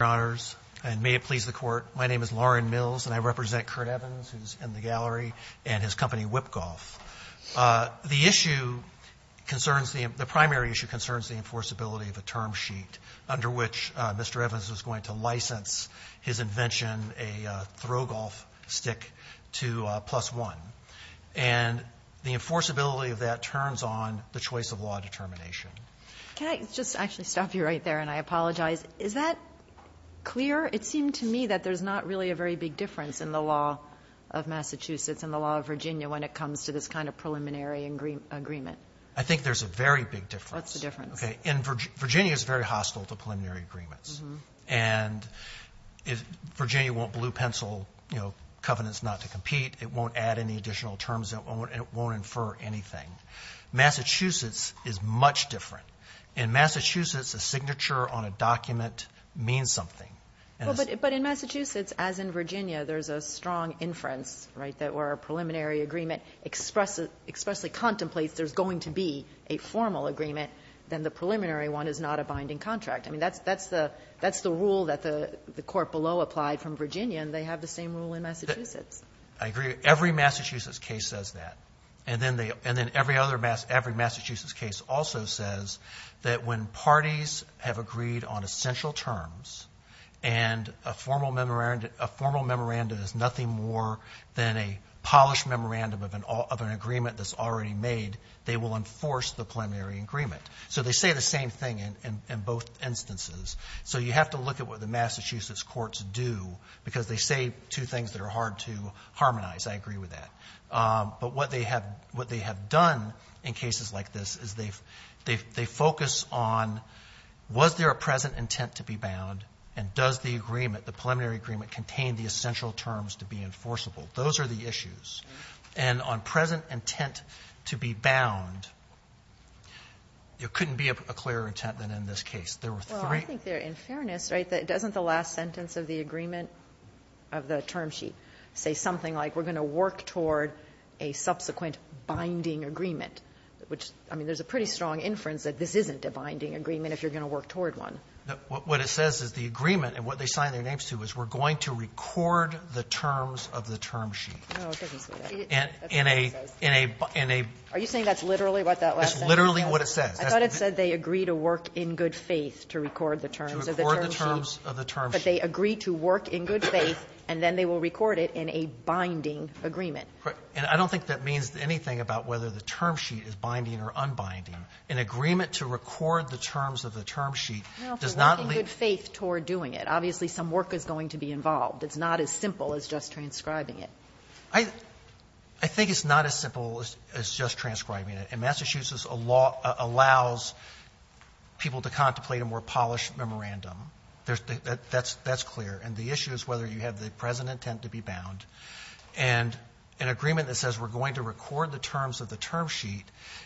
Thank you, Your Honors, and may it please the Court, my name is Lauren Mills and I represent Kurt Evans, who is in the gallery, and his company, WhipGolf. The issue concerns the – the primary issue concerns the enforceability of a term sheet under which Mr. Evans was going to license his invention, a throw golf stick, to PlusOne. And the enforceability of that turns on the choice of law determination. Can I just actually stop you right there and I apologize? Is that clear? It seemed to me that there's not really a very big difference in the law of Massachusetts and the law of Virginia when it comes to this kind of preliminary agreement. I think there's a very big difference. What's the difference? Okay, in – Virginia is very hostile to preliminary agreements. And Virginia won't blue pencil, you know, covenants not to compete. It won't add any additional terms. It won't infer anything. Massachusetts is much different. In Massachusetts, a signature on a document means something. Well, but in Massachusetts, as in Virginia, there's a strong inference, right, that where a preliminary agreement expresses – expressly contemplates there's going to be a formal agreement, then the preliminary one is not a binding contract. I mean, that's – that's the – that's the rule that the court below applied from Virginia, and they have the same rule in Massachusetts. I agree. Every Massachusetts case says that. And then they – and then every other – every Massachusetts case also says that when parties have agreed on essential terms and a formal memorandum – a formal memorandum is nothing more than a polished memorandum of an agreement that's already made, they will enforce the preliminary agreement. So they say the same thing in both instances. So you have to look at what the Massachusetts courts do because they say two things that are hard to harmonize. I agree with that. But what they have – what they have done in cases like this is they've – they focus on was there a present intent to be bound, and does the agreement, the preliminary agreement, contain the essential terms to be enforceable. Those are the issues. And on present intent to be bound, there couldn't be a clearer intent than in this case. There were three – Kagan in this case, right, that doesn't the last sentence of the agreement of the term sheet say something like, we're going to work toward a subsequent binding agreement, which, I mean, there's a pretty strong inference that this isn't a binding agreement if you're going to work toward one. What it says is the agreement, and what they signed their names to is we're going to record the terms of the term sheet. No, it doesn't say that. And in a – in a – in a – Are you saying that's literally what that last sentence says? It's literally what it says. I thought it said they agree to work in good faith to record the terms of the term sheet, but they agree to work in good faith, and then they will record it in a binding agreement. And I don't think that means anything about whether the term sheet is binding or unbinding. An agreement to record the terms of the term sheet does not lead to – Well, for working good faith toward doing it. Obviously, some work is going to be involved. It's not as simple as just transcribing it. I think it's not as simple as just transcribing it. And Massachusetts allows people to contemplate a more polished memorandum. That's clear. And the issue is whether you have the present intent to be bound. And an agreement that says we're going to record the terms of the term sheet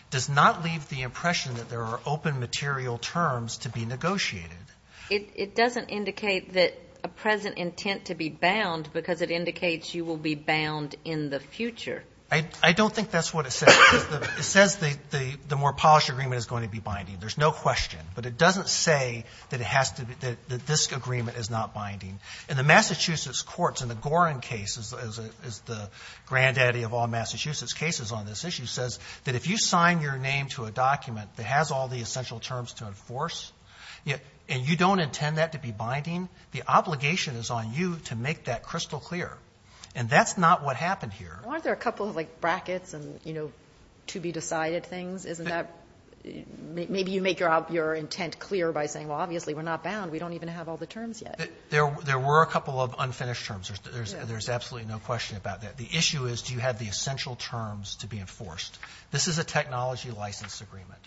does not leave the impression that there are open material terms to be negotiated. It doesn't indicate that a present intent to be bound because it indicates you will be bound in the future. I don't think that's what it says. It says the more polished agreement is going to be binding. There's no question. But it doesn't say that it has to be – that this agreement is not binding. In the Massachusetts courts, in the Gorin case, as the granddaddy of all Massachusetts cases on this issue, says that if you sign your name to a document that has all the essential terms to enforce, and you don't intend that to be binding, the obligation is on you to make that crystal clear. And that's not what happened here. Aren't there a couple of, like, brackets and, you know, to-be-decided things? Isn't that – maybe you make your intent clear by saying, well, obviously, we're not bound. We don't even have all the terms yet. There were a couple of unfinished terms. There's absolutely no question about that. The issue is, do you have the essential terms to be enforced? This is a technology license agreement.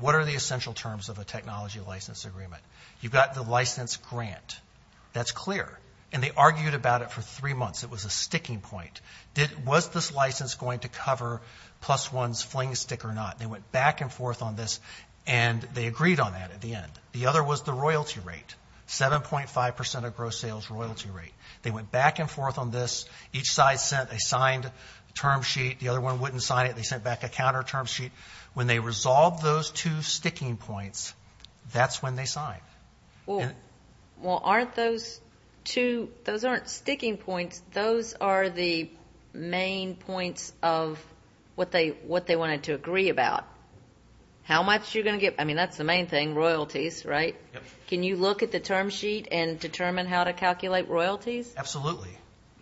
What are the essential terms of a technology license agreement? You've got the license grant. That's clear. And they argued about it for three months. It was a sticking point. Was this license going to cover plus one's fling stick or not? They went back and forth on this, and they agreed on that at the end. The other was the royalty rate, 7.5 percent of gross sales royalty rate. They went back and forth on this. Each side sent a signed term sheet. The other one wouldn't sign it. They sent back a counter term sheet. When they resolved those two sticking points, that's when they signed. Well, aren't those two – those aren't sticking points. Those are the main points of what they wanted to agree about. How much you're going to get – I mean, that's the main thing, royalties, right? Can you look at the term sheet and determine how to calculate royalties? Absolutely.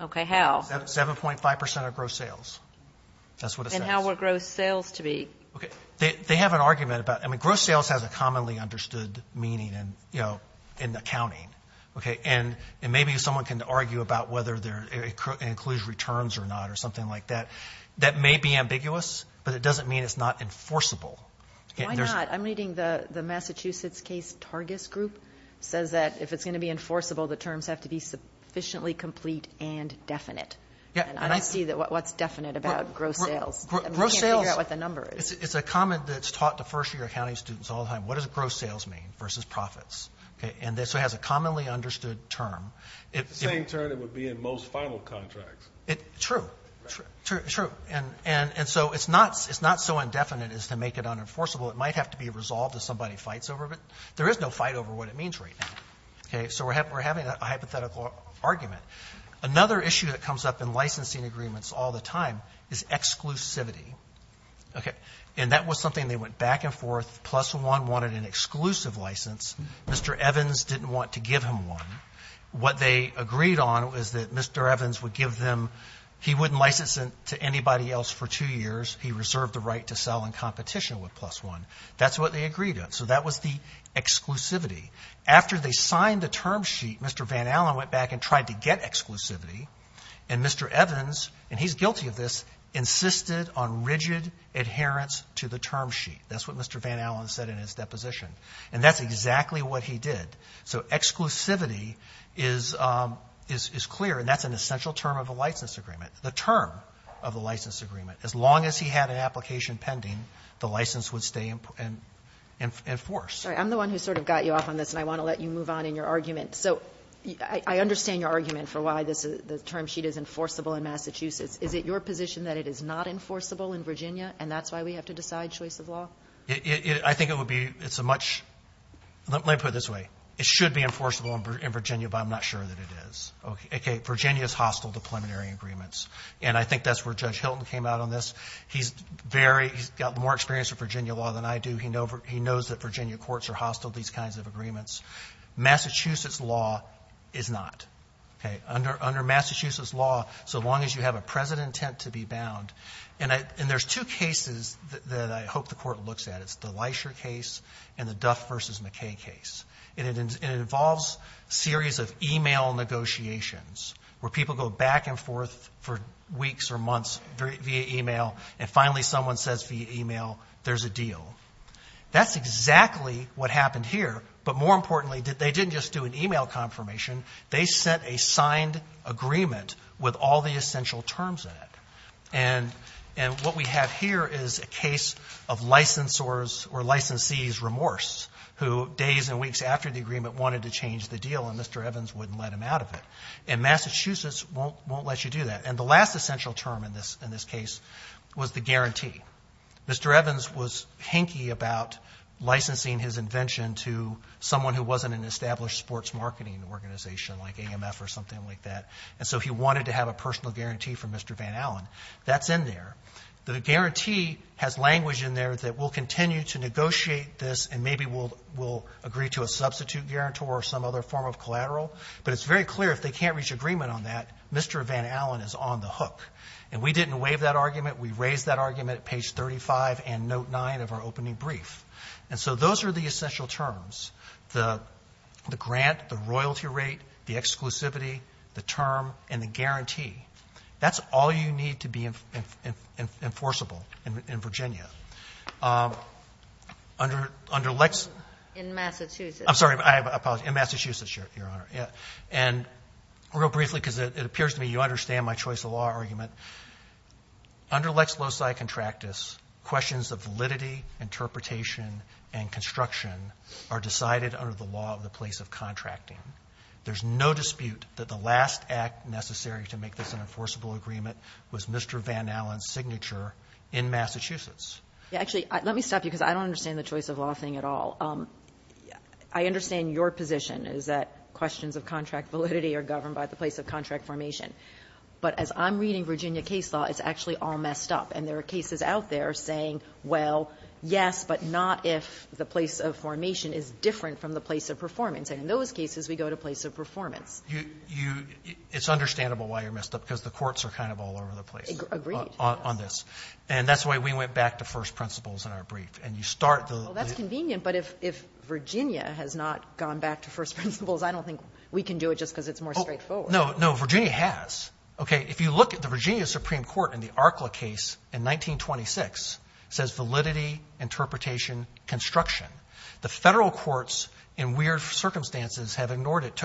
Okay, how? 7.5 percent of gross sales. That's what it says. And how were gross sales to be – Okay. They have an argument about – I mean, gross sales has a commonly understood meaning in accounting. Okay. And maybe someone can argue about whether it includes returns or not or something like that. That may be ambiguous, but it doesn't mean it's not enforceable. Why not? I'm reading the Massachusetts case, Targis Group, says that if it's going to be enforceable, the terms have to be sufficiently complete and definite. Yeah. And I see what's definite about gross sales. Gross sales – I'm trying to figure out what the number is. It's a comment that's taught to first-year accounting students all the time. What does gross sales mean versus profits? Okay. And this has a commonly understood term. If it's the same term, it would be in most final contracts. True. True. True. And so it's not so indefinite as to make it unenforceable. It might have to be resolved if somebody fights over it, but there is no fight over what it means right now. Okay. So we're having a hypothetical argument. Another issue that comes up in licensing agreements all the time is exclusivity. Okay. And that was something they went back and forth. Plus One wanted an exclusive license. Mr. Evans didn't want to give him one. What they agreed on was that Mr. Evans would give them – he wouldn't license it to anybody else for two years. He reserved the right to sell in competition with Plus One. That's what they agreed on. So that was the exclusivity. After they signed the term sheet, Mr. Van Allen went back and tried to get exclusivity. And Mr. Evans, and he's guilty of this, insisted on rigid adherence to the term sheet. That's what Mr. Van Allen said in his deposition. And that's exactly what he did. So exclusivity is clear, and that's an essential term of a license agreement. The term of a license agreement. As long as he had an application pending, the license would stay enforced. I'm the one who sort of got you off on this, and I want to let you move on in your argument. So I understand your argument for why the term sheet is enforceable in Massachusetts. Is it your position that it is not enforceable in Virginia, and that's why we have to decide choice of law? I think it would be – it's a much – let me put it this way. It should be enforceable in Virginia, but I'm not sure that it is. Okay. Virginia is hostile to preliminary agreements. And I think that's where Judge Hilton came out on this. He's very – he's got more experience with Virginia law than I do. He knows that Virginia courts are hostile to these kinds of agreements. Massachusetts law is not. Okay. Under Massachusetts law, so long as you have a present intent to be bound – and there's two cases that I hope the court looks at. It's the Leisher case and the Duff v. McKay case. And it involves a series of email negotiations where people go back and forth for weeks or months via email, and finally someone says via email, there's a deal. That's exactly what happened here. But more importantly, they didn't just do an email confirmation. They sent a signed agreement with all the essential terms in it. And what we have here is a case of licensor's or licensee's remorse who, days and weeks after the agreement, wanted to change the deal, and Mr. Evans wouldn't let him out of it. And Massachusetts won't let you do that. And the last essential term in this case was the guarantee. Mr. Evans was hanky about licensing his invention to someone who wasn't an established sports marketing organization like AMF or something like that. And so he wanted to have a personal guarantee from Mr. Van Allen. That's in there. The guarantee has language in there that we'll continue to negotiate this and maybe we'll agree to a substitute guarantor or some other form of collateral. But it's very clear if they can't reach agreement on that, Mr. Van Allen is on the hook. And we didn't waive that argument. We raised that argument at page 35 and note 9 of our opening brief. And so those are the essential terms, the grant, the royalty rate, the exclusivity, the term, and the guarantee. That's all you need to be enforceable in Virginia. Under Lex- In Massachusetts. I'm sorry, I apologize, in Massachusetts, Your Honor. And real briefly, because it appears to me you understand my choice of law argument. Under Lex Loci Contractus, questions of validity, interpretation, and construction are decided under the law of the place of contracting. There's no dispute that the last act necessary to make this an enforceable agreement was Mr. Van Allen's signature in Massachusetts. Actually, let me stop you because I don't understand the choice of law thing at all. I understand your position is that questions of contract validity are governed by the place of contract formation. But as I'm reading Virginia case law, it's actually all messed up. And there are cases out there saying, well, yes, but not if the place of formation is different from the place of performance. And in those cases, we go to place of performance. You — it's understandable why you're messed up, because the courts are kind of all over the place. Agreed. On this. And that's why we went back to first principles in our brief. And you start the — Well, that's convenient, but if Virginia has not gone back to first principles, I don't think we can do it just because it's more straightforward. No, no, Virginia has. Okay, if you look at the Virginia Supreme Court in the Arcla case in 1926, says validity, interpretation, construction. The federal courts, in weird circumstances, have ignored it.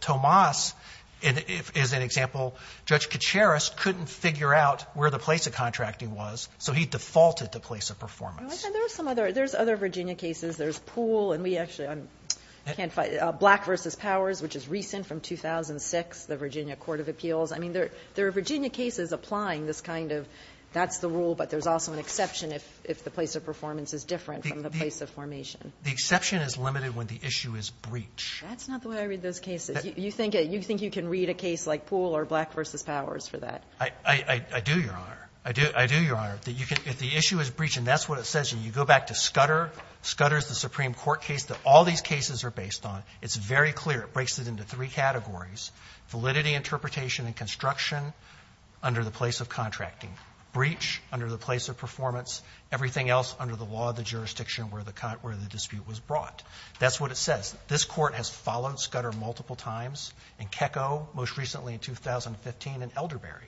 Tomas is an example. Judge Kacharis couldn't figure out where the place of contracting was, so he defaulted to place of performance. There are some other — there's other Virginia cases. There's Poole. And we actually can't find — Black versus Powers, which is recent from 2006. The Virginia Court of Appeals. I mean, there are Virginia cases applying this kind of, that's the rule, but there's also an exception if the place of performance is different from the place of formation. The exception is limited when the issue is breach. That's not the way I read those cases. You think you can read a case like Poole or Black versus Powers for that? I do, Your Honor. I do, Your Honor. If the issue is breach, and that's what it says, and you go back to Scudder, Scudder is the Supreme Court case that all these cases are based on, it's very clear. It breaks it into three categories, validity interpretation and construction under the place of contracting, breach under the place of performance, everything else under the law of the jurisdiction where the dispute was brought. That's what it says. This Court has followed Scudder multiple times, in Kecko most recently in 2015, and Elderberry.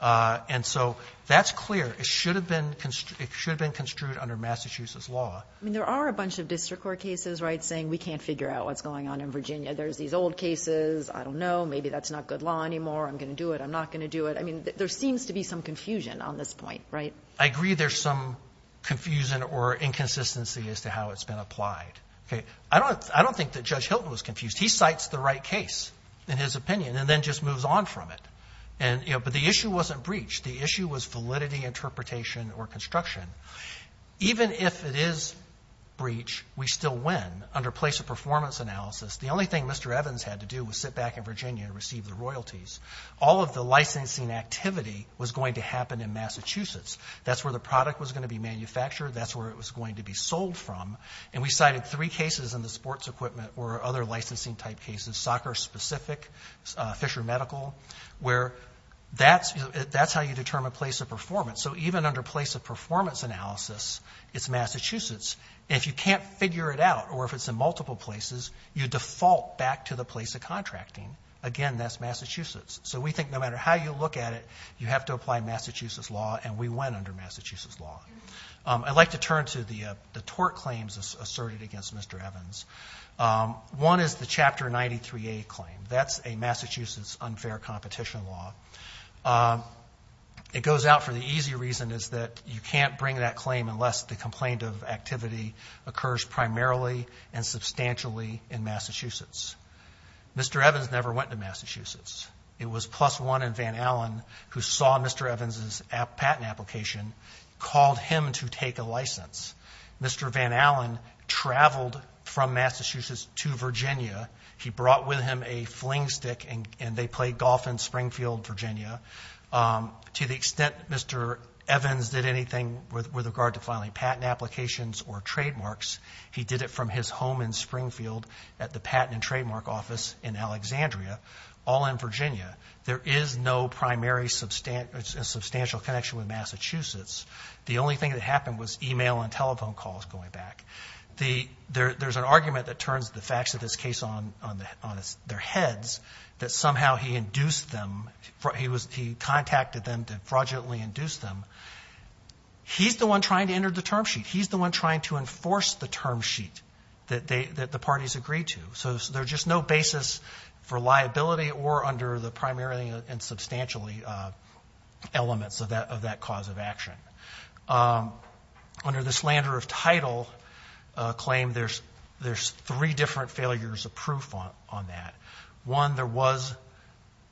And so that's clear. It should have been — it should have been construed under Massachusetts law. I mean, there are a bunch of district court cases, right, saying we can't figure out what's going on in Virginia. There's these old cases. I don't know. Maybe that's not good law anymore. I'm going to do it. I'm not going to do it. I mean, there seems to be some confusion on this point, right? I agree there's some confusion or inconsistency as to how it's been applied, okay? I don't think that Judge Hilton was confused. He cites the right case in his opinion and then just moves on from it. And, you know, but the issue wasn't breach. The issue was validity interpretation or construction. Even if it is breach, we still win under place of performance analysis. The only thing Mr. Evans had to do was sit back in Virginia and receive the royalties. All of the licensing activity was going to happen in Massachusetts. That's where the product was going to be manufactured. That's where it was going to be sold from. And we cited three cases in the sports equipment or other licensing-type cases, soccer-specific, Fisher Medical, where that's how you determine place of performance. So even under place of performance analysis, it's Massachusetts. If you can't figure it out or if it's in multiple places, you default back to the place of contracting. Again, that's Massachusetts. So we think no matter how you look at it, you have to apply Massachusetts law, and we went under Massachusetts law. I'd like to turn to the tort claims asserted against Mr. Evans. One is the Chapter 93A claim. That's a Massachusetts unfair competition law. It goes out for the easy reason is that you can't bring that claim unless the complaint of activity occurs primarily and substantially in Massachusetts. Mr. Evans never went to Massachusetts. It was Plus One and Van Allen who saw Mr. Evans' patent application, called him to take a license. Mr. Van Allen traveled from Massachusetts to Virginia. He brought with him a fling stick, and they played golf in Springfield, Virginia. To the extent Mr. Evans did anything with regard to filing patent applications or trademarks, he did it from his home in Springfield at the Patent and Trademark Office in Alexandria, all in Virginia. There is no primary substantial connection with Massachusetts. The only thing that happened was email and telephone calls going back. There's an argument that turns the facts of this case on their heads, that somehow he induced them, he contacted them to fraudulently induce them. He's the one trying to enter the term sheet. He's the one trying to enforce the term sheet that the parties agreed to. So there's just no basis for liability or under the primary and substantially elements of that cause of action. Under the slander of title claim, there's three different failures of proof on that. One, there was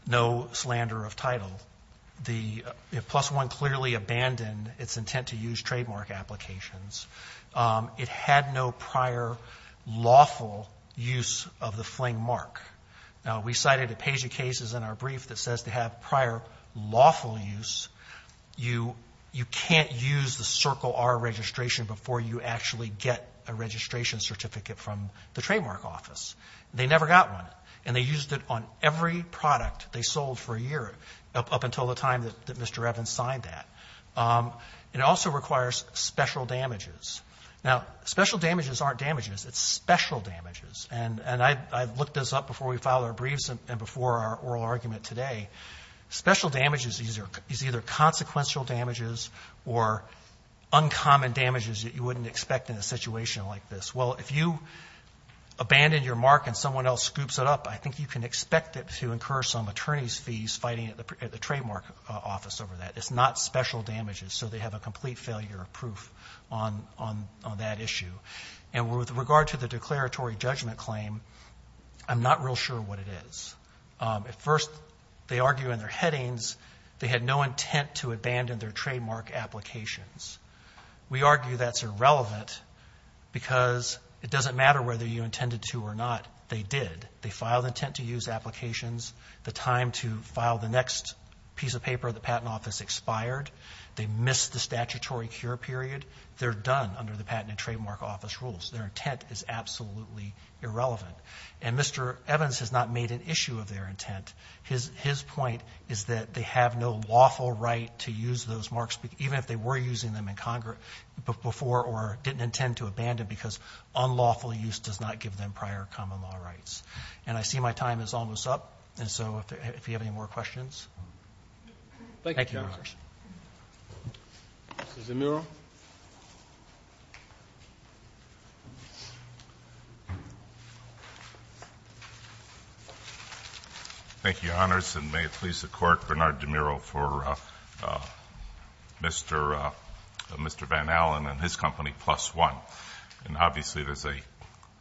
no slander of title. The Plus One clearly abandoned its intent to use trademark applications. It had no prior lawful use of the fling mark. Now, we cited a page of cases in our brief that says they have prior lawful use. You can't use the Circle R registration before you actually get a registration certificate from the trademark office. They never got one. And they used it on every product they sold for a year, up until the time that Mr. Evans signed that. It also requires special damages. Now, special damages aren't damages, it's special damages. And I've looked this up before we filed our briefs and before our oral argument today. Special damages is either consequential damages or uncommon damages that you wouldn't expect in a situation like this. Well, if you abandon your mark and someone else scoops it up, I think you can expect it to incur some attorney's fees fighting at the trademark office over that. It's not special damages, so they have a complete failure of proof on that issue. And with regard to the declaratory judgment claim, I'm not real sure what it is. At first, they argue in their headings they had no intent to abandon their trademark applications. We argue that's irrelevant because it doesn't matter whether you intended to or not, they did. They filed intent to use applications. The time to file the next piece of paper at the patent office expired. They missed the statutory cure period. They're done under the Patent and Trademark Office rules. Their intent is absolutely irrelevant. And Mr. Evans has not made an issue of their intent. His point is that they have no lawful right to use those marks, even if they were using them in Congress before or didn't intend to abandon, because unlawful use does not give them prior common law rights. And I see my time is almost up, and so if you have any more questions. Thank you, Your Honors. Thank you, Your Honors. Mr. Zamuro. Thank you, Your Honors, and may it please the court, Bernard DeMuro for Mr. Van Allen and his company, Plus One. And obviously there's a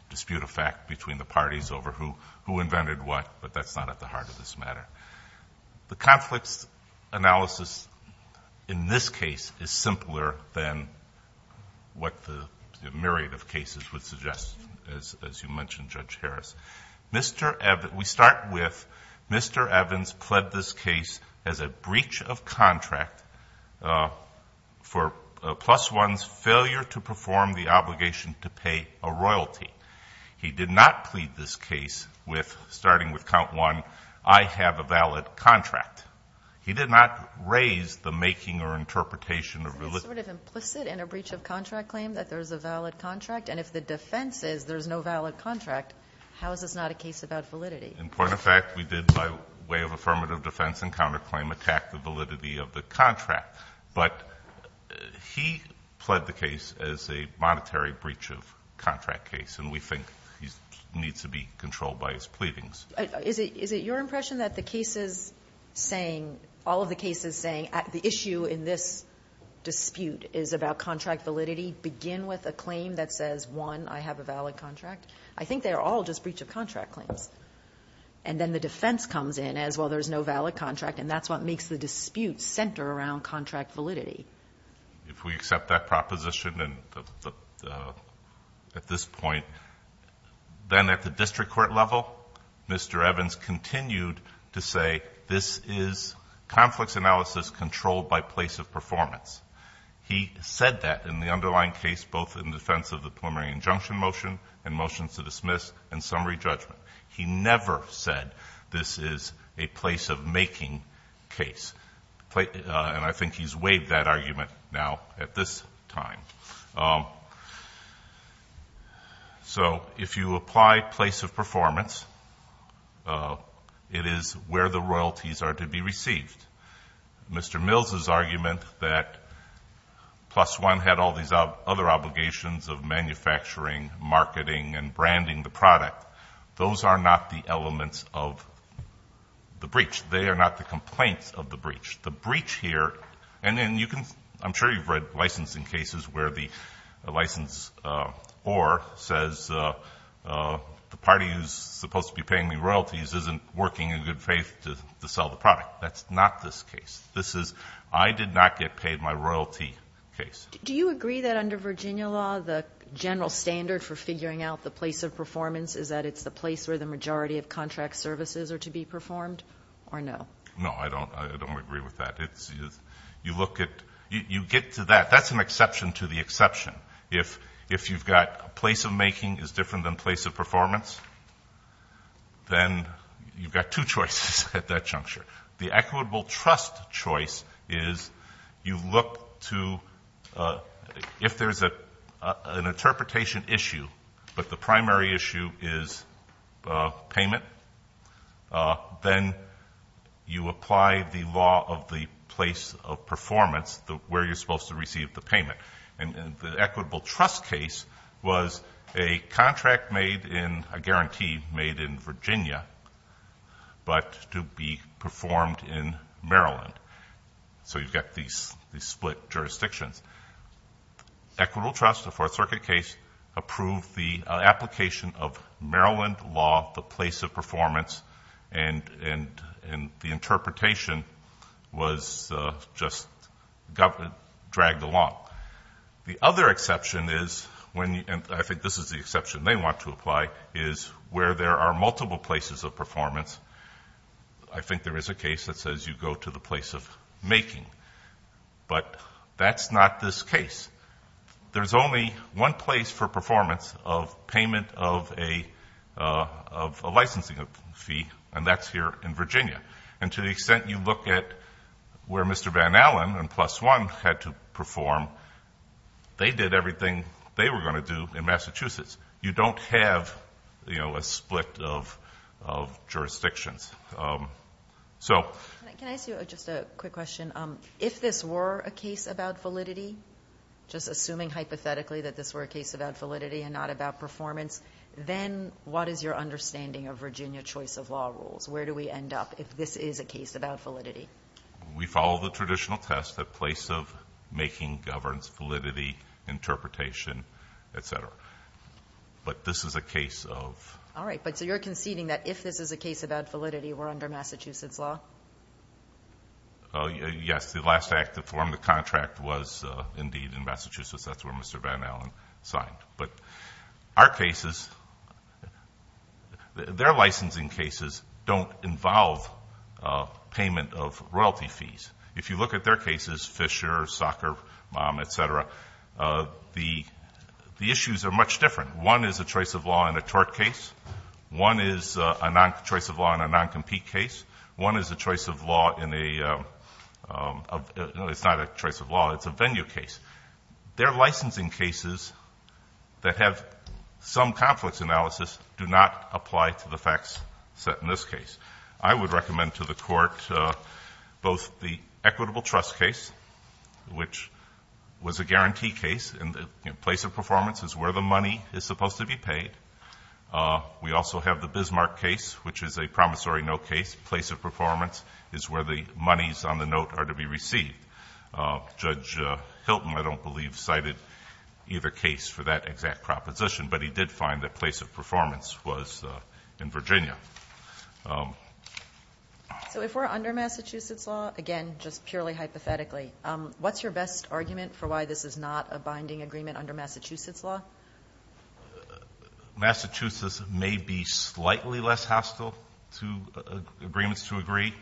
dispute of fact between the parties over who invented what, but that's not at the heart of this matter. The conflicts analysis in this case is simpler than what the myriad of cases would suggest, as you mentioned, Judge Harris. Mr. Evans, we start with Mr. Evans pled this case as a breach of contract for Plus One's failure to perform the obligation to pay a royalty. He did not plead this case with, starting with count one, I have a valid contract. He did not raise the making or interpretation of religion. Is it sort of implicit in a breach of contract claim that there's a valid contract? And if the defense is there's no valid contract, how is this not a case about validity? In point of fact, we did, by way of affirmative defense and counterclaim, attack the validity of the contract. But he pled the case as a monetary breach of contract case. And we think he needs to be controlled by his pleadings. Is it your impression that the cases saying, all of the cases saying, the issue in this dispute is about contract validity begin with a claim that says, one, I have a valid contract? I think they're all just breach of contract claims. And then the defense comes in as, well, there's no valid contract, and that's what makes the dispute center around contract validity. If we accept that proposition at this point, then at the district court level, Mr. Evans continued to say, this is conflicts analysis controlled by place of performance. He said that in the underlying case, both in defense of the preliminary injunction motion and motions to dismiss and summary judgment. He never said this is a place of making case. And I think he's waived that argument now at this time. So if you apply place of performance, it is where the royalties are to be received. Mr. Mills' argument that plus one had all these other obligations of manufacturing, marketing, and branding the product, those are not the elements of the breach. They are not the complaints of the breach. The breach here, and then you can, I'm sure you've read licensing cases where the license or says the party who's supposed to be paying me royalties isn't working in good faith to sell the product. That's not this case. This is, I did not get paid my royalty case. Do you agree that under Virginia law, the general standard for figuring out the place of performance is that it's the place where the majority of contract services are to be performed, or no? No, I don't agree with that. It's, you look at, you get to that. That's an exception to the exception. If you've got place of making is different than place of performance, then you've got two choices at that juncture. The equitable trust choice is you look to, if there's an interpretation issue, but the primary issue is payment, then you apply the law of the place of performance, where you're supposed to receive the payment. And the equitable trust case was a contract made in, a guarantee made in Virginia, but to be performed in Maryland, so you've got these split jurisdictions. Equitable trust, a fourth circuit case, approved the application of Maryland law, the place of performance, and the interpretation was just dragged along. The other exception is when, and I think this is the exception they want to apply, is where there are multiple places of performance. I think there is a case that says you go to the place of making, but that's not this case. There's only one place for performance of payment of a licensing fee, and that's here in Virginia. And to the extent you look at where Mr. Van Allen and Plus One had to perform, they did everything they were going to do in Massachusetts. You don't have a split of jurisdictions. So- Can I ask you just a quick question? If this were a case about validity, just assuming hypothetically that this were a case about validity and not about performance, then what is your understanding of Virginia choice of law rules? Where do we end up if this is a case about validity? We follow the traditional test, the place of making, governance, validity, interpretation, etc. But this is a case of- All right, but so you're conceding that if this is a case about validity, we're under Massachusetts law? Yes, the last act to form the contract was indeed in Massachusetts. That's where Mr. Van Allen signed. But our cases, their licensing cases don't involve payment of royalty fees. If you look at their cases, Fisher, Socker, Mom, etc., the issues are much different. One is a choice of law in a tort case. One is a choice of law in a non-compete case. One is a choice of law in a, no, it's not a choice of law, it's a venue case. Their licensing cases that have some conflicts analysis do not apply to the facts set in this case. I would recommend to the court both the equitable trust case, which was a guarantee case in the place of performance is where the money is supposed to be paid. We also have the Bismarck case, which is a promissory note case. Place of performance is where the monies on the note are to be received. Judge Hilton, I don't believe, cited either case for that exact proposition, but he did find that place of performance was in Virginia. So if we're under Massachusetts law, again, just purely hypothetically, what's your best argument for why this is not a binding agreement under Massachusetts law? Massachusetts may be slightly less hostile to agreements to agree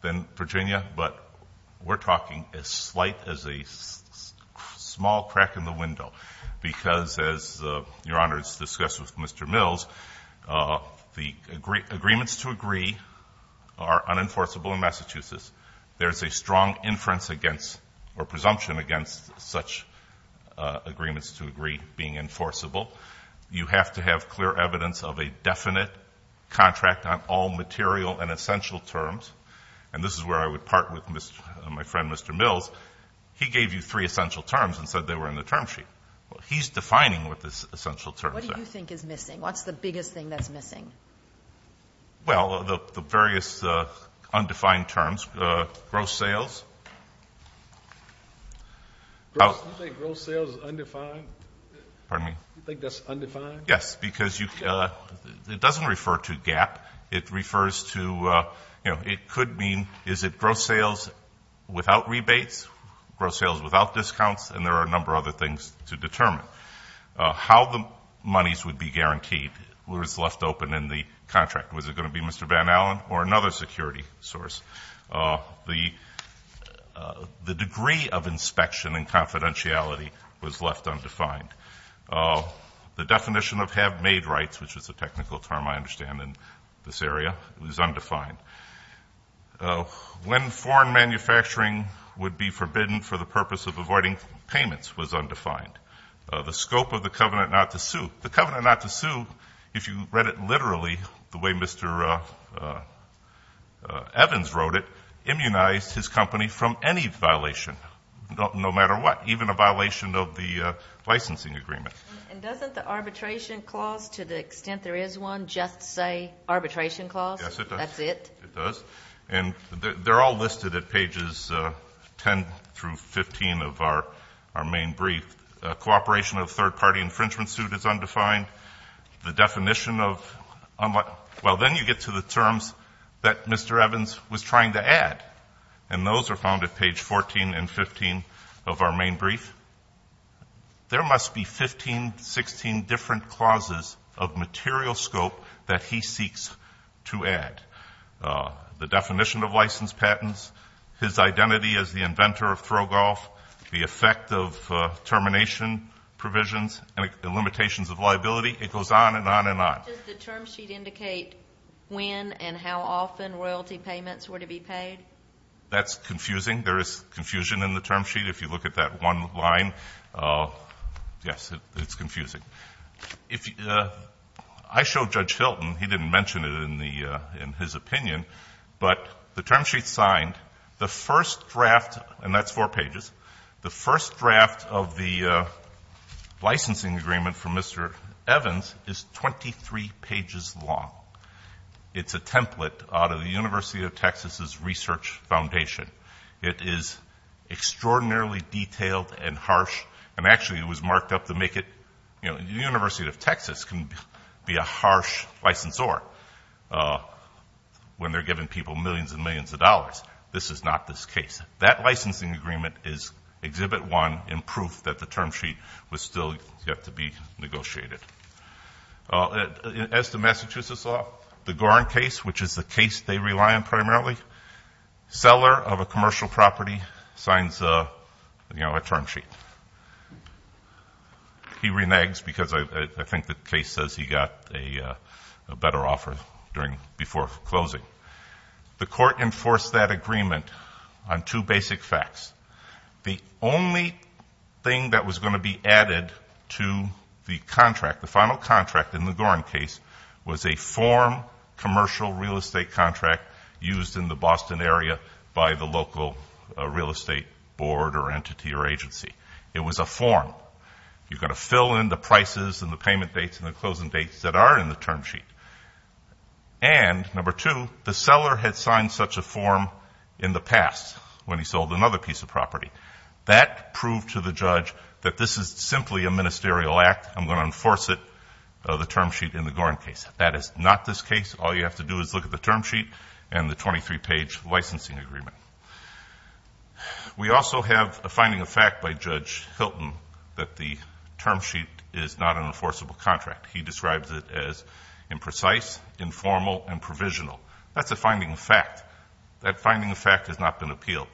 than Virginia, but we're talking as slight as a small crack in the window. Because as Your Honor has discussed with Mr. Mills, the agreements to agree are unenforceable in Massachusetts. There's a strong inference against or presumption against such agreements to agree being enforceable. You have to have clear evidence of a definite contract on all material and essential terms. And this is where I would part with my friend Mr. Mills. He gave you three essential terms and said they were in the term sheet. He's defining what the essential terms are. What do you think is missing? What's the biggest thing that's missing? Well, the various undefined terms. Gross sales. You think gross sales is undefined? Pardon me? You think that's undefined? Yes, because it doesn't refer to gap. It refers to, it could mean, is it gross sales without rebates? Gross sales without discounts? And there are a number of other things to determine. How the monies would be guaranteed was left open in the contract. Was it going to be Mr. Van Allen or another security source? The degree of inspection and confidentiality was left undefined. The definition of have made rights, which is a technical term I understand in this area, was undefined. When foreign manufacturing would be forbidden for the purpose of avoiding payments was undefined. The scope of the covenant not to sue. The covenant not to sue, if you read it literally the way Mr. Evans wrote it, immunized his company from any violation, no matter what, even a violation of the licensing agreement. And doesn't the arbitration clause, to the extent there is one, just say arbitration clause? That's it? It does. And they're all listed at pages 10 through 15 of our main brief. Cooperation of third party infringement suit is undefined. The definition of, well, then you get to the terms that Mr. Evans was trying to add. And those are found at page 14 and 15 of our main brief. There must be 15, 16 different clauses of material scope that he seeks to add. The definition of license patents, his identity as the inventor of throw golf, the effect of termination provisions, and the limitations of liability, it goes on and on and on. Does the term sheet indicate when and how often royalty payments were to be paid? That's confusing. There is confusion in the term sheet, if you look at that one line, yes, it's confusing. I showed Judge Hilton, he didn't mention it in his opinion, but the term sheet's signed, the first draft, and that's four pages, the first draft of the licensing agreement for Mr. Evans is 23 pages long. It's a template out of the University of Texas' research foundation. It is extraordinarily detailed and harsh, and actually it was marked up to make it, the University of Texas can be a harsh licensor for when they're giving people millions and millions of dollars. This is not this case. That licensing agreement is exhibit one in proof that the term sheet was still yet to be negotiated. As the Massachusetts law, the Gorin case, which is the case they rely on primarily, seller of a commercial property signs a term sheet. He reneges because I think the case says he got a better offer before closing. The court enforced that agreement on two basic facts. The only thing that was going to be added to the contract, the final contract in the Gorin case, was a form commercial real estate contract used in the Boston area by the local real estate board or entity or agency. It was a form. You're going to fill in the prices and the payment dates and the closing dates that are in the term sheet. And number two, the seller had signed such a form in the past when he sold another piece of property. That proved to the judge that this is simply a ministerial act. I'm going to enforce it, the term sheet in the Gorin case. That is not this case. All you have to do is look at the term sheet and the 23 page licensing agreement. We also have a finding of fact by Judge Hilton that the term sheet is not an enforceable contract. He describes it as imprecise, informal, and provisional. That's a finding of fact. That finding of fact has not been appealed.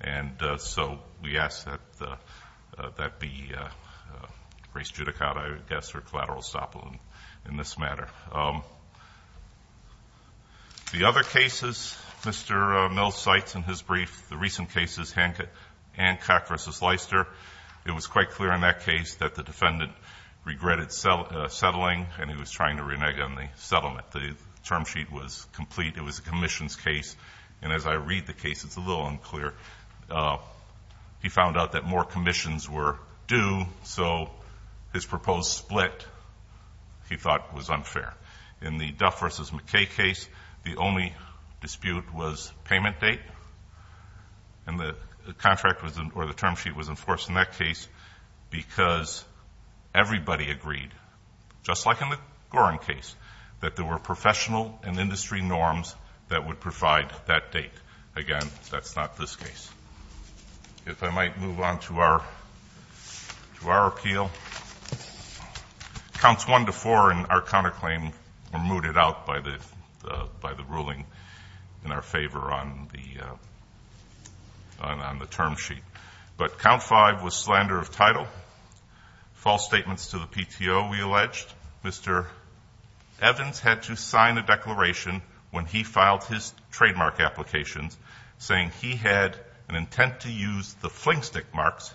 And so we ask that that be raised to the count, I guess, or collateral estoppel in this matter. The other cases, Mr. Mills cites in his brief, the recent cases, Hancock versus Leister. It was quite clear in that case that the defendant regretted settling and he was trying to renege on the settlement. The term sheet was complete. It was a commission's case. And as I read the case, it's a little unclear. He found out that more commissions were due, so his proposed split, he thought, was unfair. In the Duff versus McKay case, the only dispute was payment date. And the contract was, or the term sheet was enforced in that case because everybody agreed, just like in the Gorin case, that there were professional and industry norms that would provide that date. Again, that's not this case. If I might move on to our appeal. Counts one to four in our counterclaim were mooted out by the ruling in our favor on the term sheet. But count five was slander of title, false statements to the PTO, we alleged. Mr. Evans had to sign a declaration when he filed his trademark applications, saying he had an intent to use the fling stick marks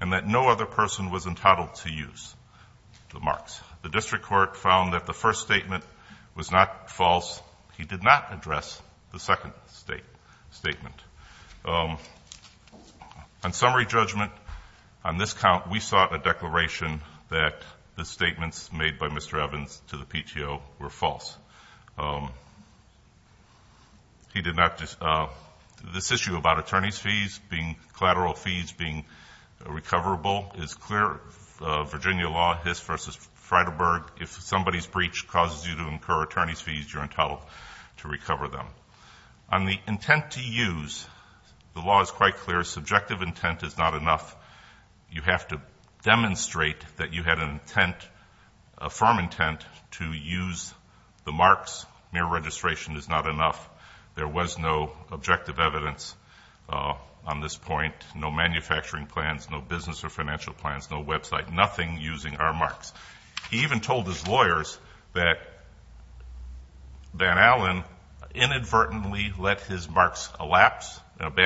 and that no other person was entitled to use the marks. The district court found that the first statement was not false. He did not address the second statement. On summary judgment, on this count, we sought a declaration that the statements made by Mr. Evans to the PTO were false. He did not, this issue about attorney's fees being collateral fees being recoverable is clear. Virginia law, Hiss versus Freidelberg, if somebody's breach causes you to incur attorney's fees, you're entitled to recover them. On the intent to use, the law is quite clear. Subjective intent is not enough. You have to demonstrate that you had a firm intent to use the marks. Mere registration is not enough. There was no objective evidence on this point, no manufacturing plans, no business or financial plans, no website, nothing using our marks. He even told his lawyers that Van Allen inadvertently let his marks elapse and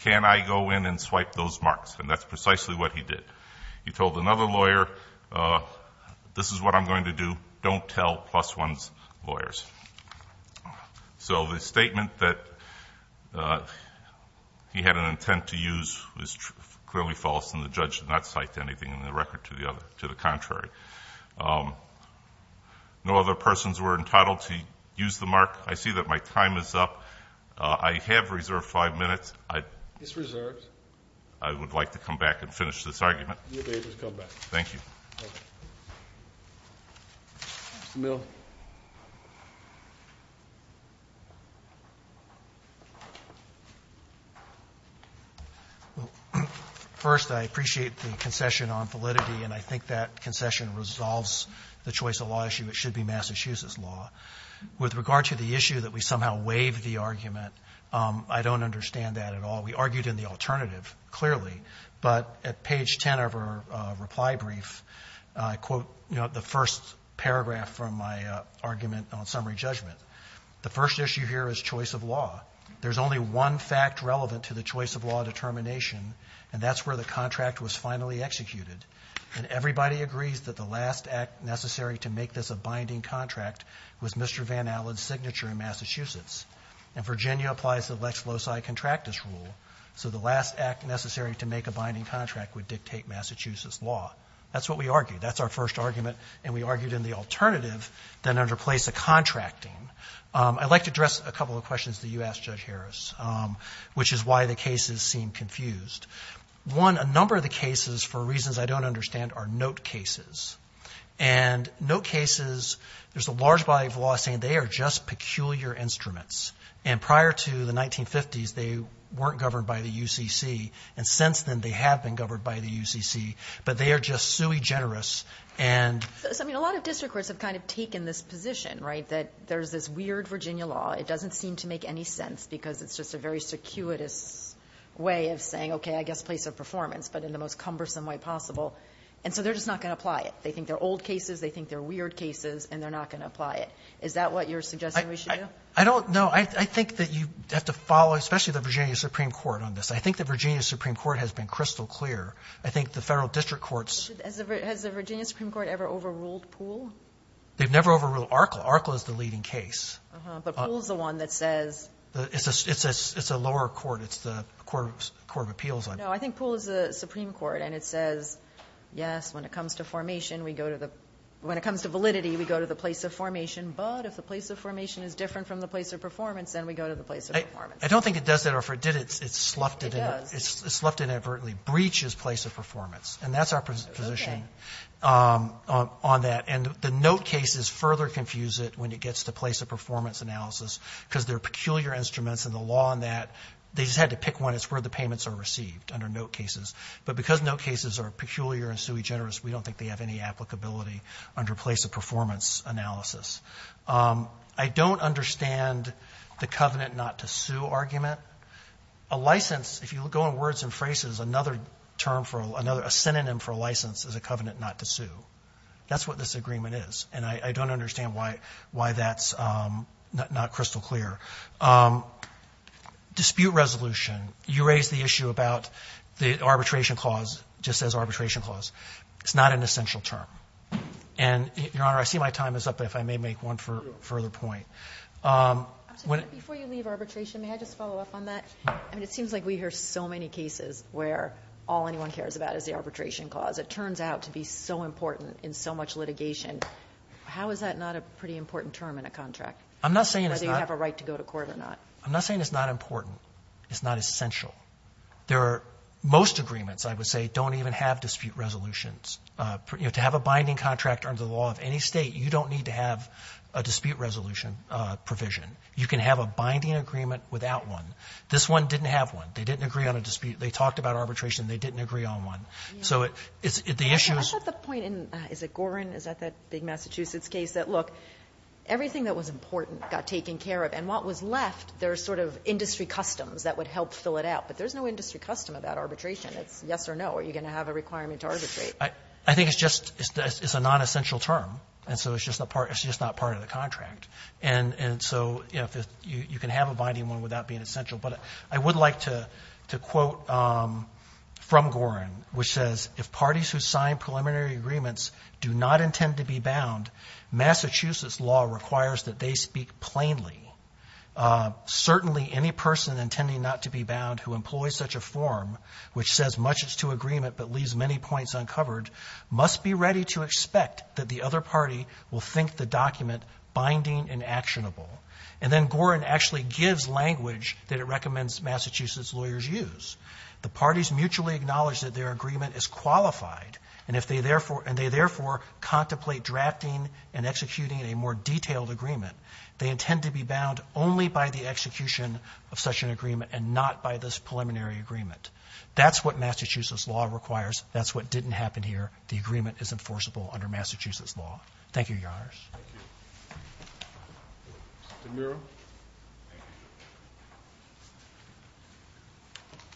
can I go in and swipe those marks, and that's precisely what he did. He told another lawyer, this is what I'm going to do, don't tell plus one's lawyers. So the statement that he had an intent to use was clearly false, and the judge did not cite anything in the record to the contrary. No other persons were entitled to use the mark. I see that my time is up. I have reserved five minutes. It's reserved. I would like to come back and finish this argument. You're able to come back. Thank you. Mr. Milne. First, I appreciate the concession on validity, and I think that concession resolves the choice of law issue. It should be Massachusetts law. With regard to the issue that we somehow waived the argument, I don't understand that at all. We argued in the alternative, clearly, but at page 10 of our reply brief, I quote the first paragraph from my argument on summary judgment. The first issue here is choice of law. There's only one fact relevant to the choice of law determination, and that's where the contract was finally executed. And everybody agrees that the last act necessary to make this a binding contract was Mr. Van Allen's signature in Massachusetts. And Virginia applies the lex loci contractus rule. So the last act necessary to make a binding contract would dictate Massachusetts law. That's what we argued. That's our first argument. And we argued in the alternative, then under place of contracting. I'd like to address a couple of questions that you asked, Judge Harris, which is why the cases seem confused. One, a number of the cases, for reasons I don't understand, are note cases. And note cases, there's a large body of law saying they are just peculiar instruments. And prior to the 1950s, they weren't governed by the UCC. And since then, they have been governed by the UCC. But they are just sui generis. And- So I mean, a lot of district courts have kind of taken this position, right? That there's this weird Virginia law. It doesn't seem to make any sense because it's just a very circuitous way of saying, okay, I guess place of performance, but in the most cumbersome way possible. And so they're just not going to apply it. They think they're old cases. They think they're weird cases. And they're not going to apply it. Is that what you're suggesting we should do? I don't know. I think that you have to follow, especially the Virginia Supreme Court on this. I think the Virginia Supreme Court has been crystal clear. I think the Federal District Courts- Has the Virginia Supreme Court ever overruled Poole? They've never overruled Arkl. Arkl is the leading case. But Poole's the one that says- It's a lower court. It's the Court of Appeals. No, I think Poole is the Supreme Court. And it says, yes, when it comes to formation, we go to the – when it comes to validity, we go to the place of formation. But if the place of formation is different from the place of performance, then we go to the place of performance. I don't think it does that. Or if it did, it sloughed in- It sloughed in advertently. Breach is place of performance. And that's our position on that. And the note cases further confuse it when it gets to place of performance analysis, because they're peculiar instruments. And the law on that, they just had to pick one. It's where the payments are received under note cases. But because note cases are peculiar and sui generis, we don't think they have any applicability under place of performance analysis. I don't understand the covenant not to sue argument. A license, if you go in words and phrases, another term for another – a synonym for a license is a covenant not to sue. That's what this agreement is. And I don't understand why that's not crystal clear. Dispute resolution. You raised the issue about the arbitration clause just as arbitration clause. It's not an essential term. And, Your Honor, I see my time is up. If I may make one further point. Before you leave arbitration, may I just follow up on that? I mean, it seems like we hear so many cases where all anyone cares about is the arbitration clause. It turns out to be so important in so much litigation. How is that not a pretty important term in a contract? I'm not saying it's not- Whether you have a right to go to court or not. I'm not saying it's not important. It's not essential. There are – most agreements, I would say, don't even have dispute resolutions. To have a binding contract under the law of any state, you don't need to have a dispute resolution provision. You can have a binding agreement without one. This one didn't have one. They didn't agree on a dispute. They talked about arbitration. They didn't agree on one. So the issue is- I thought the point in – is it Gorin? Is that that big Massachusetts case? That, look, everything that was important got taken care of. And what was left, there's sort of industry customs that would help fill it out. But there's no industry custom about arbitration. It's yes or no. Are you going to have a requirement to arbitrate? I think it's just – it's a non-essential term. And so it's just not part of the contract. And so you can have a binding one without being essential. But I would like to quote from Gorin, which says, if parties who sign preliminary agreements do not intend to be bound, Massachusetts law requires that they speak plainly. Certainly any person intending not to be bound who employs such a form, which says much is to agreement but leaves many points uncovered, must be ready to expect that the other party will think the document binding and actionable. And then Gorin actually gives language that it recommends Massachusetts lawyers use. The parties mutually acknowledge that their agreement is qualified. And if they therefore – and they therefore contemplate drafting and executing a more detailed agreement, they intend to be bound only by the execution of such an agreement and not by this preliminary agreement. That's what Massachusetts law requires. That's what didn't happen here. Thank you, Your Honors. Thank you.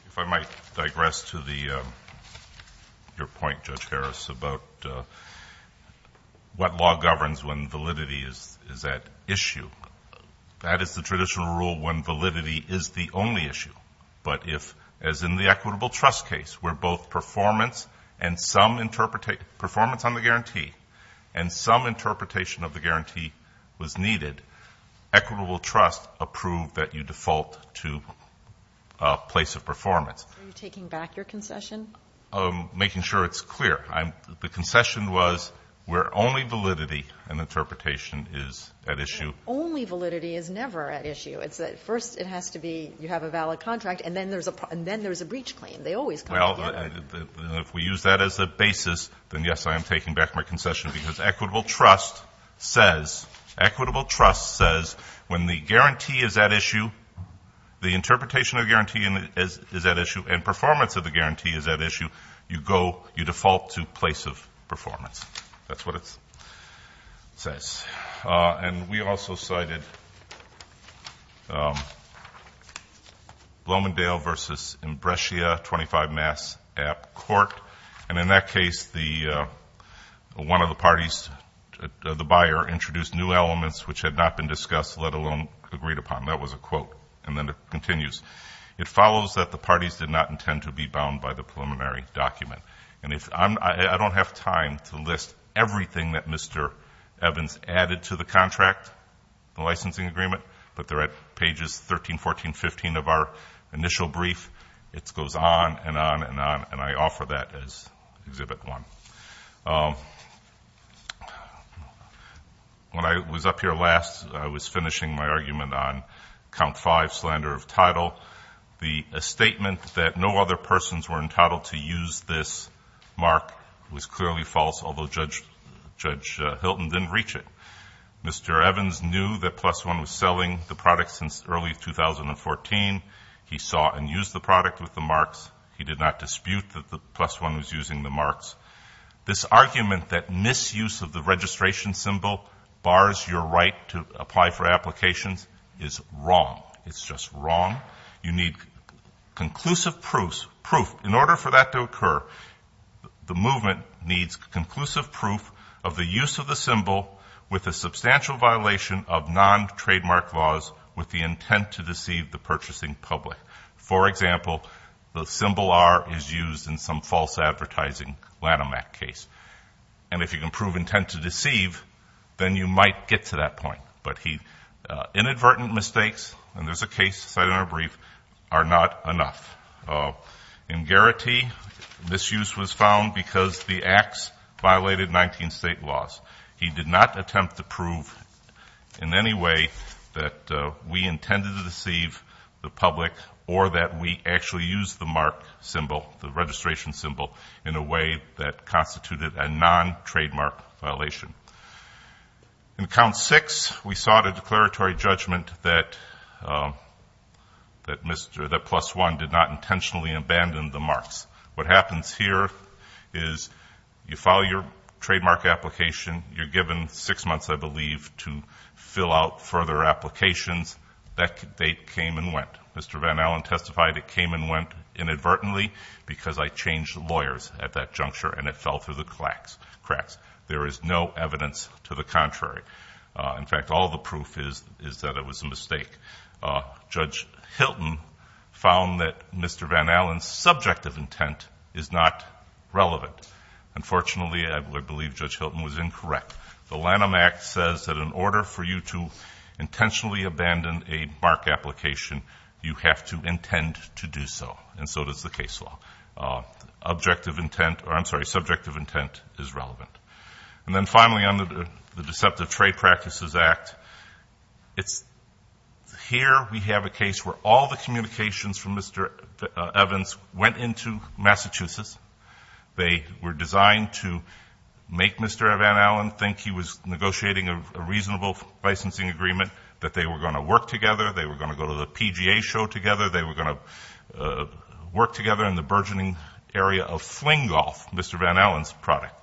If I might digress to the – your point, Judge Harris, about what law governs when validity is at issue. That is the traditional rule when validity is the only issue. But if, as in the equitable trust case, where both performance and some – performance on the guarantee and some interpretation of the guarantee was needed, equitable trust approved that you default to a place of performance. Are you taking back your concession? Making sure it's clear. The concession was where only validity and interpretation is at issue. Only validity is never at issue. It's that first it has to be – you have a valid contract, and then there's a – and then there's a breach claim. They always come together. If we use that as a basis, then, yes, I am taking back my concession because equitable trust says – equitable trust says when the guarantee is at issue, the interpretation of the guarantee is at issue, and performance of the guarantee is at issue, you go – you default to place of performance. That's what it says. And we also cited Blomendale v. Imbrescia, 25 Mass. App. Court. And in that case, the – one of the parties, the buyer, introduced new elements which had not been discussed, let alone agreed upon. That was a quote. And then it continues. It follows that the parties did not intend to be bound by the preliminary document. And if – I don't have time to list everything that Mr. Evans added to the contract, the licensing agreement, but they're at pages 13, 14, 15 of our initial brief. It goes on and on and on, and I offer that as Exhibit 1. When I was up here last, I was finishing my argument on count five, slander of title. The statement that no other persons were entitled to use this mark was clearly false, although Judge Hilton didn't reach it. Mr. Evans knew that Plus One was selling the product since early 2014. He saw and used the product with the marks. He did not dispute that Plus One was using the marks. This argument that misuse of the registration symbol bars your right to apply for applications is wrong. It's just wrong. You need conclusive proof. In order for that to occur, the movement needs conclusive proof of the use of the symbol with a substantial violation of non-trademark laws with the intent to deceive the purchasing public. For example, the symbol R is used in some false advertising Lanham Act case. And if you can prove intent to deceive, then you might get to that point. But inadvertent mistakes, and there's a case cited in our brief, are not enough. In Garrity, misuse was found because the acts violated 19 state laws. He did not attempt to prove in any way that we intended to deceive the public or that we actually used the mark symbol, the registration symbol, in a way that constituted a non-trademark violation. In Count Six, we sought a declaratory judgment that Plus One did not intentionally abandon the marks. What happens here is you file your trademark application. You're given six months, I believe, to fill out further applications. That date came and went. Mr. Van Allen testified it came and went inadvertently because I changed lawyers at that juncture and it fell through the cracks. There is no evidence to the contrary. In fact, all the proof is that it was a mistake. Judge Hilton found that Mr. Van Allen's subjective intent is not relevant. Unfortunately, I believe Judge Hilton was incorrect. The Lanham Act says that in order for you to intentionally abandon a mark application, you have to intend to do so, and so does the case law. Objective intent, or I'm sorry, subjective intent is relevant. And then finally, on the Deceptive Trade Practices Act, it's here we have a case where all the communications from Mr. Evans went into Massachusetts. They were designed to make Mr. Van Allen think he was negotiating a reasonable licensing agreement, that they were going to work together, they were going to go to the PGA show together, they were going to work together in the burgeoning area of Fling Golf, Mr. Van Allen's product.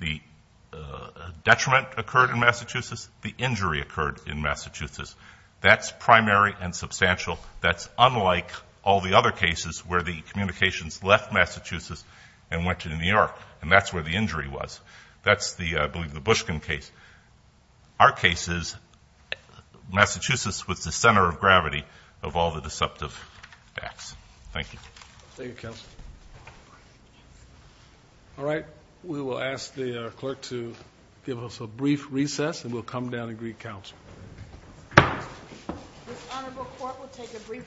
The detriment occurred in Massachusetts. The injury occurred in Massachusetts. That's primary and substantial. That's unlike all the other cases where the communications left Massachusetts and went to New York, and that's where the injury was. That's the, I believe, the Bushkin case. Our case is Massachusetts was the center of gravity of all the deceptive acts. Thank you. Thank you, counsel. All right. We will ask the clerk to give us a brief recess, and we'll come down and greet counsel. This honorable court will take a brief recess.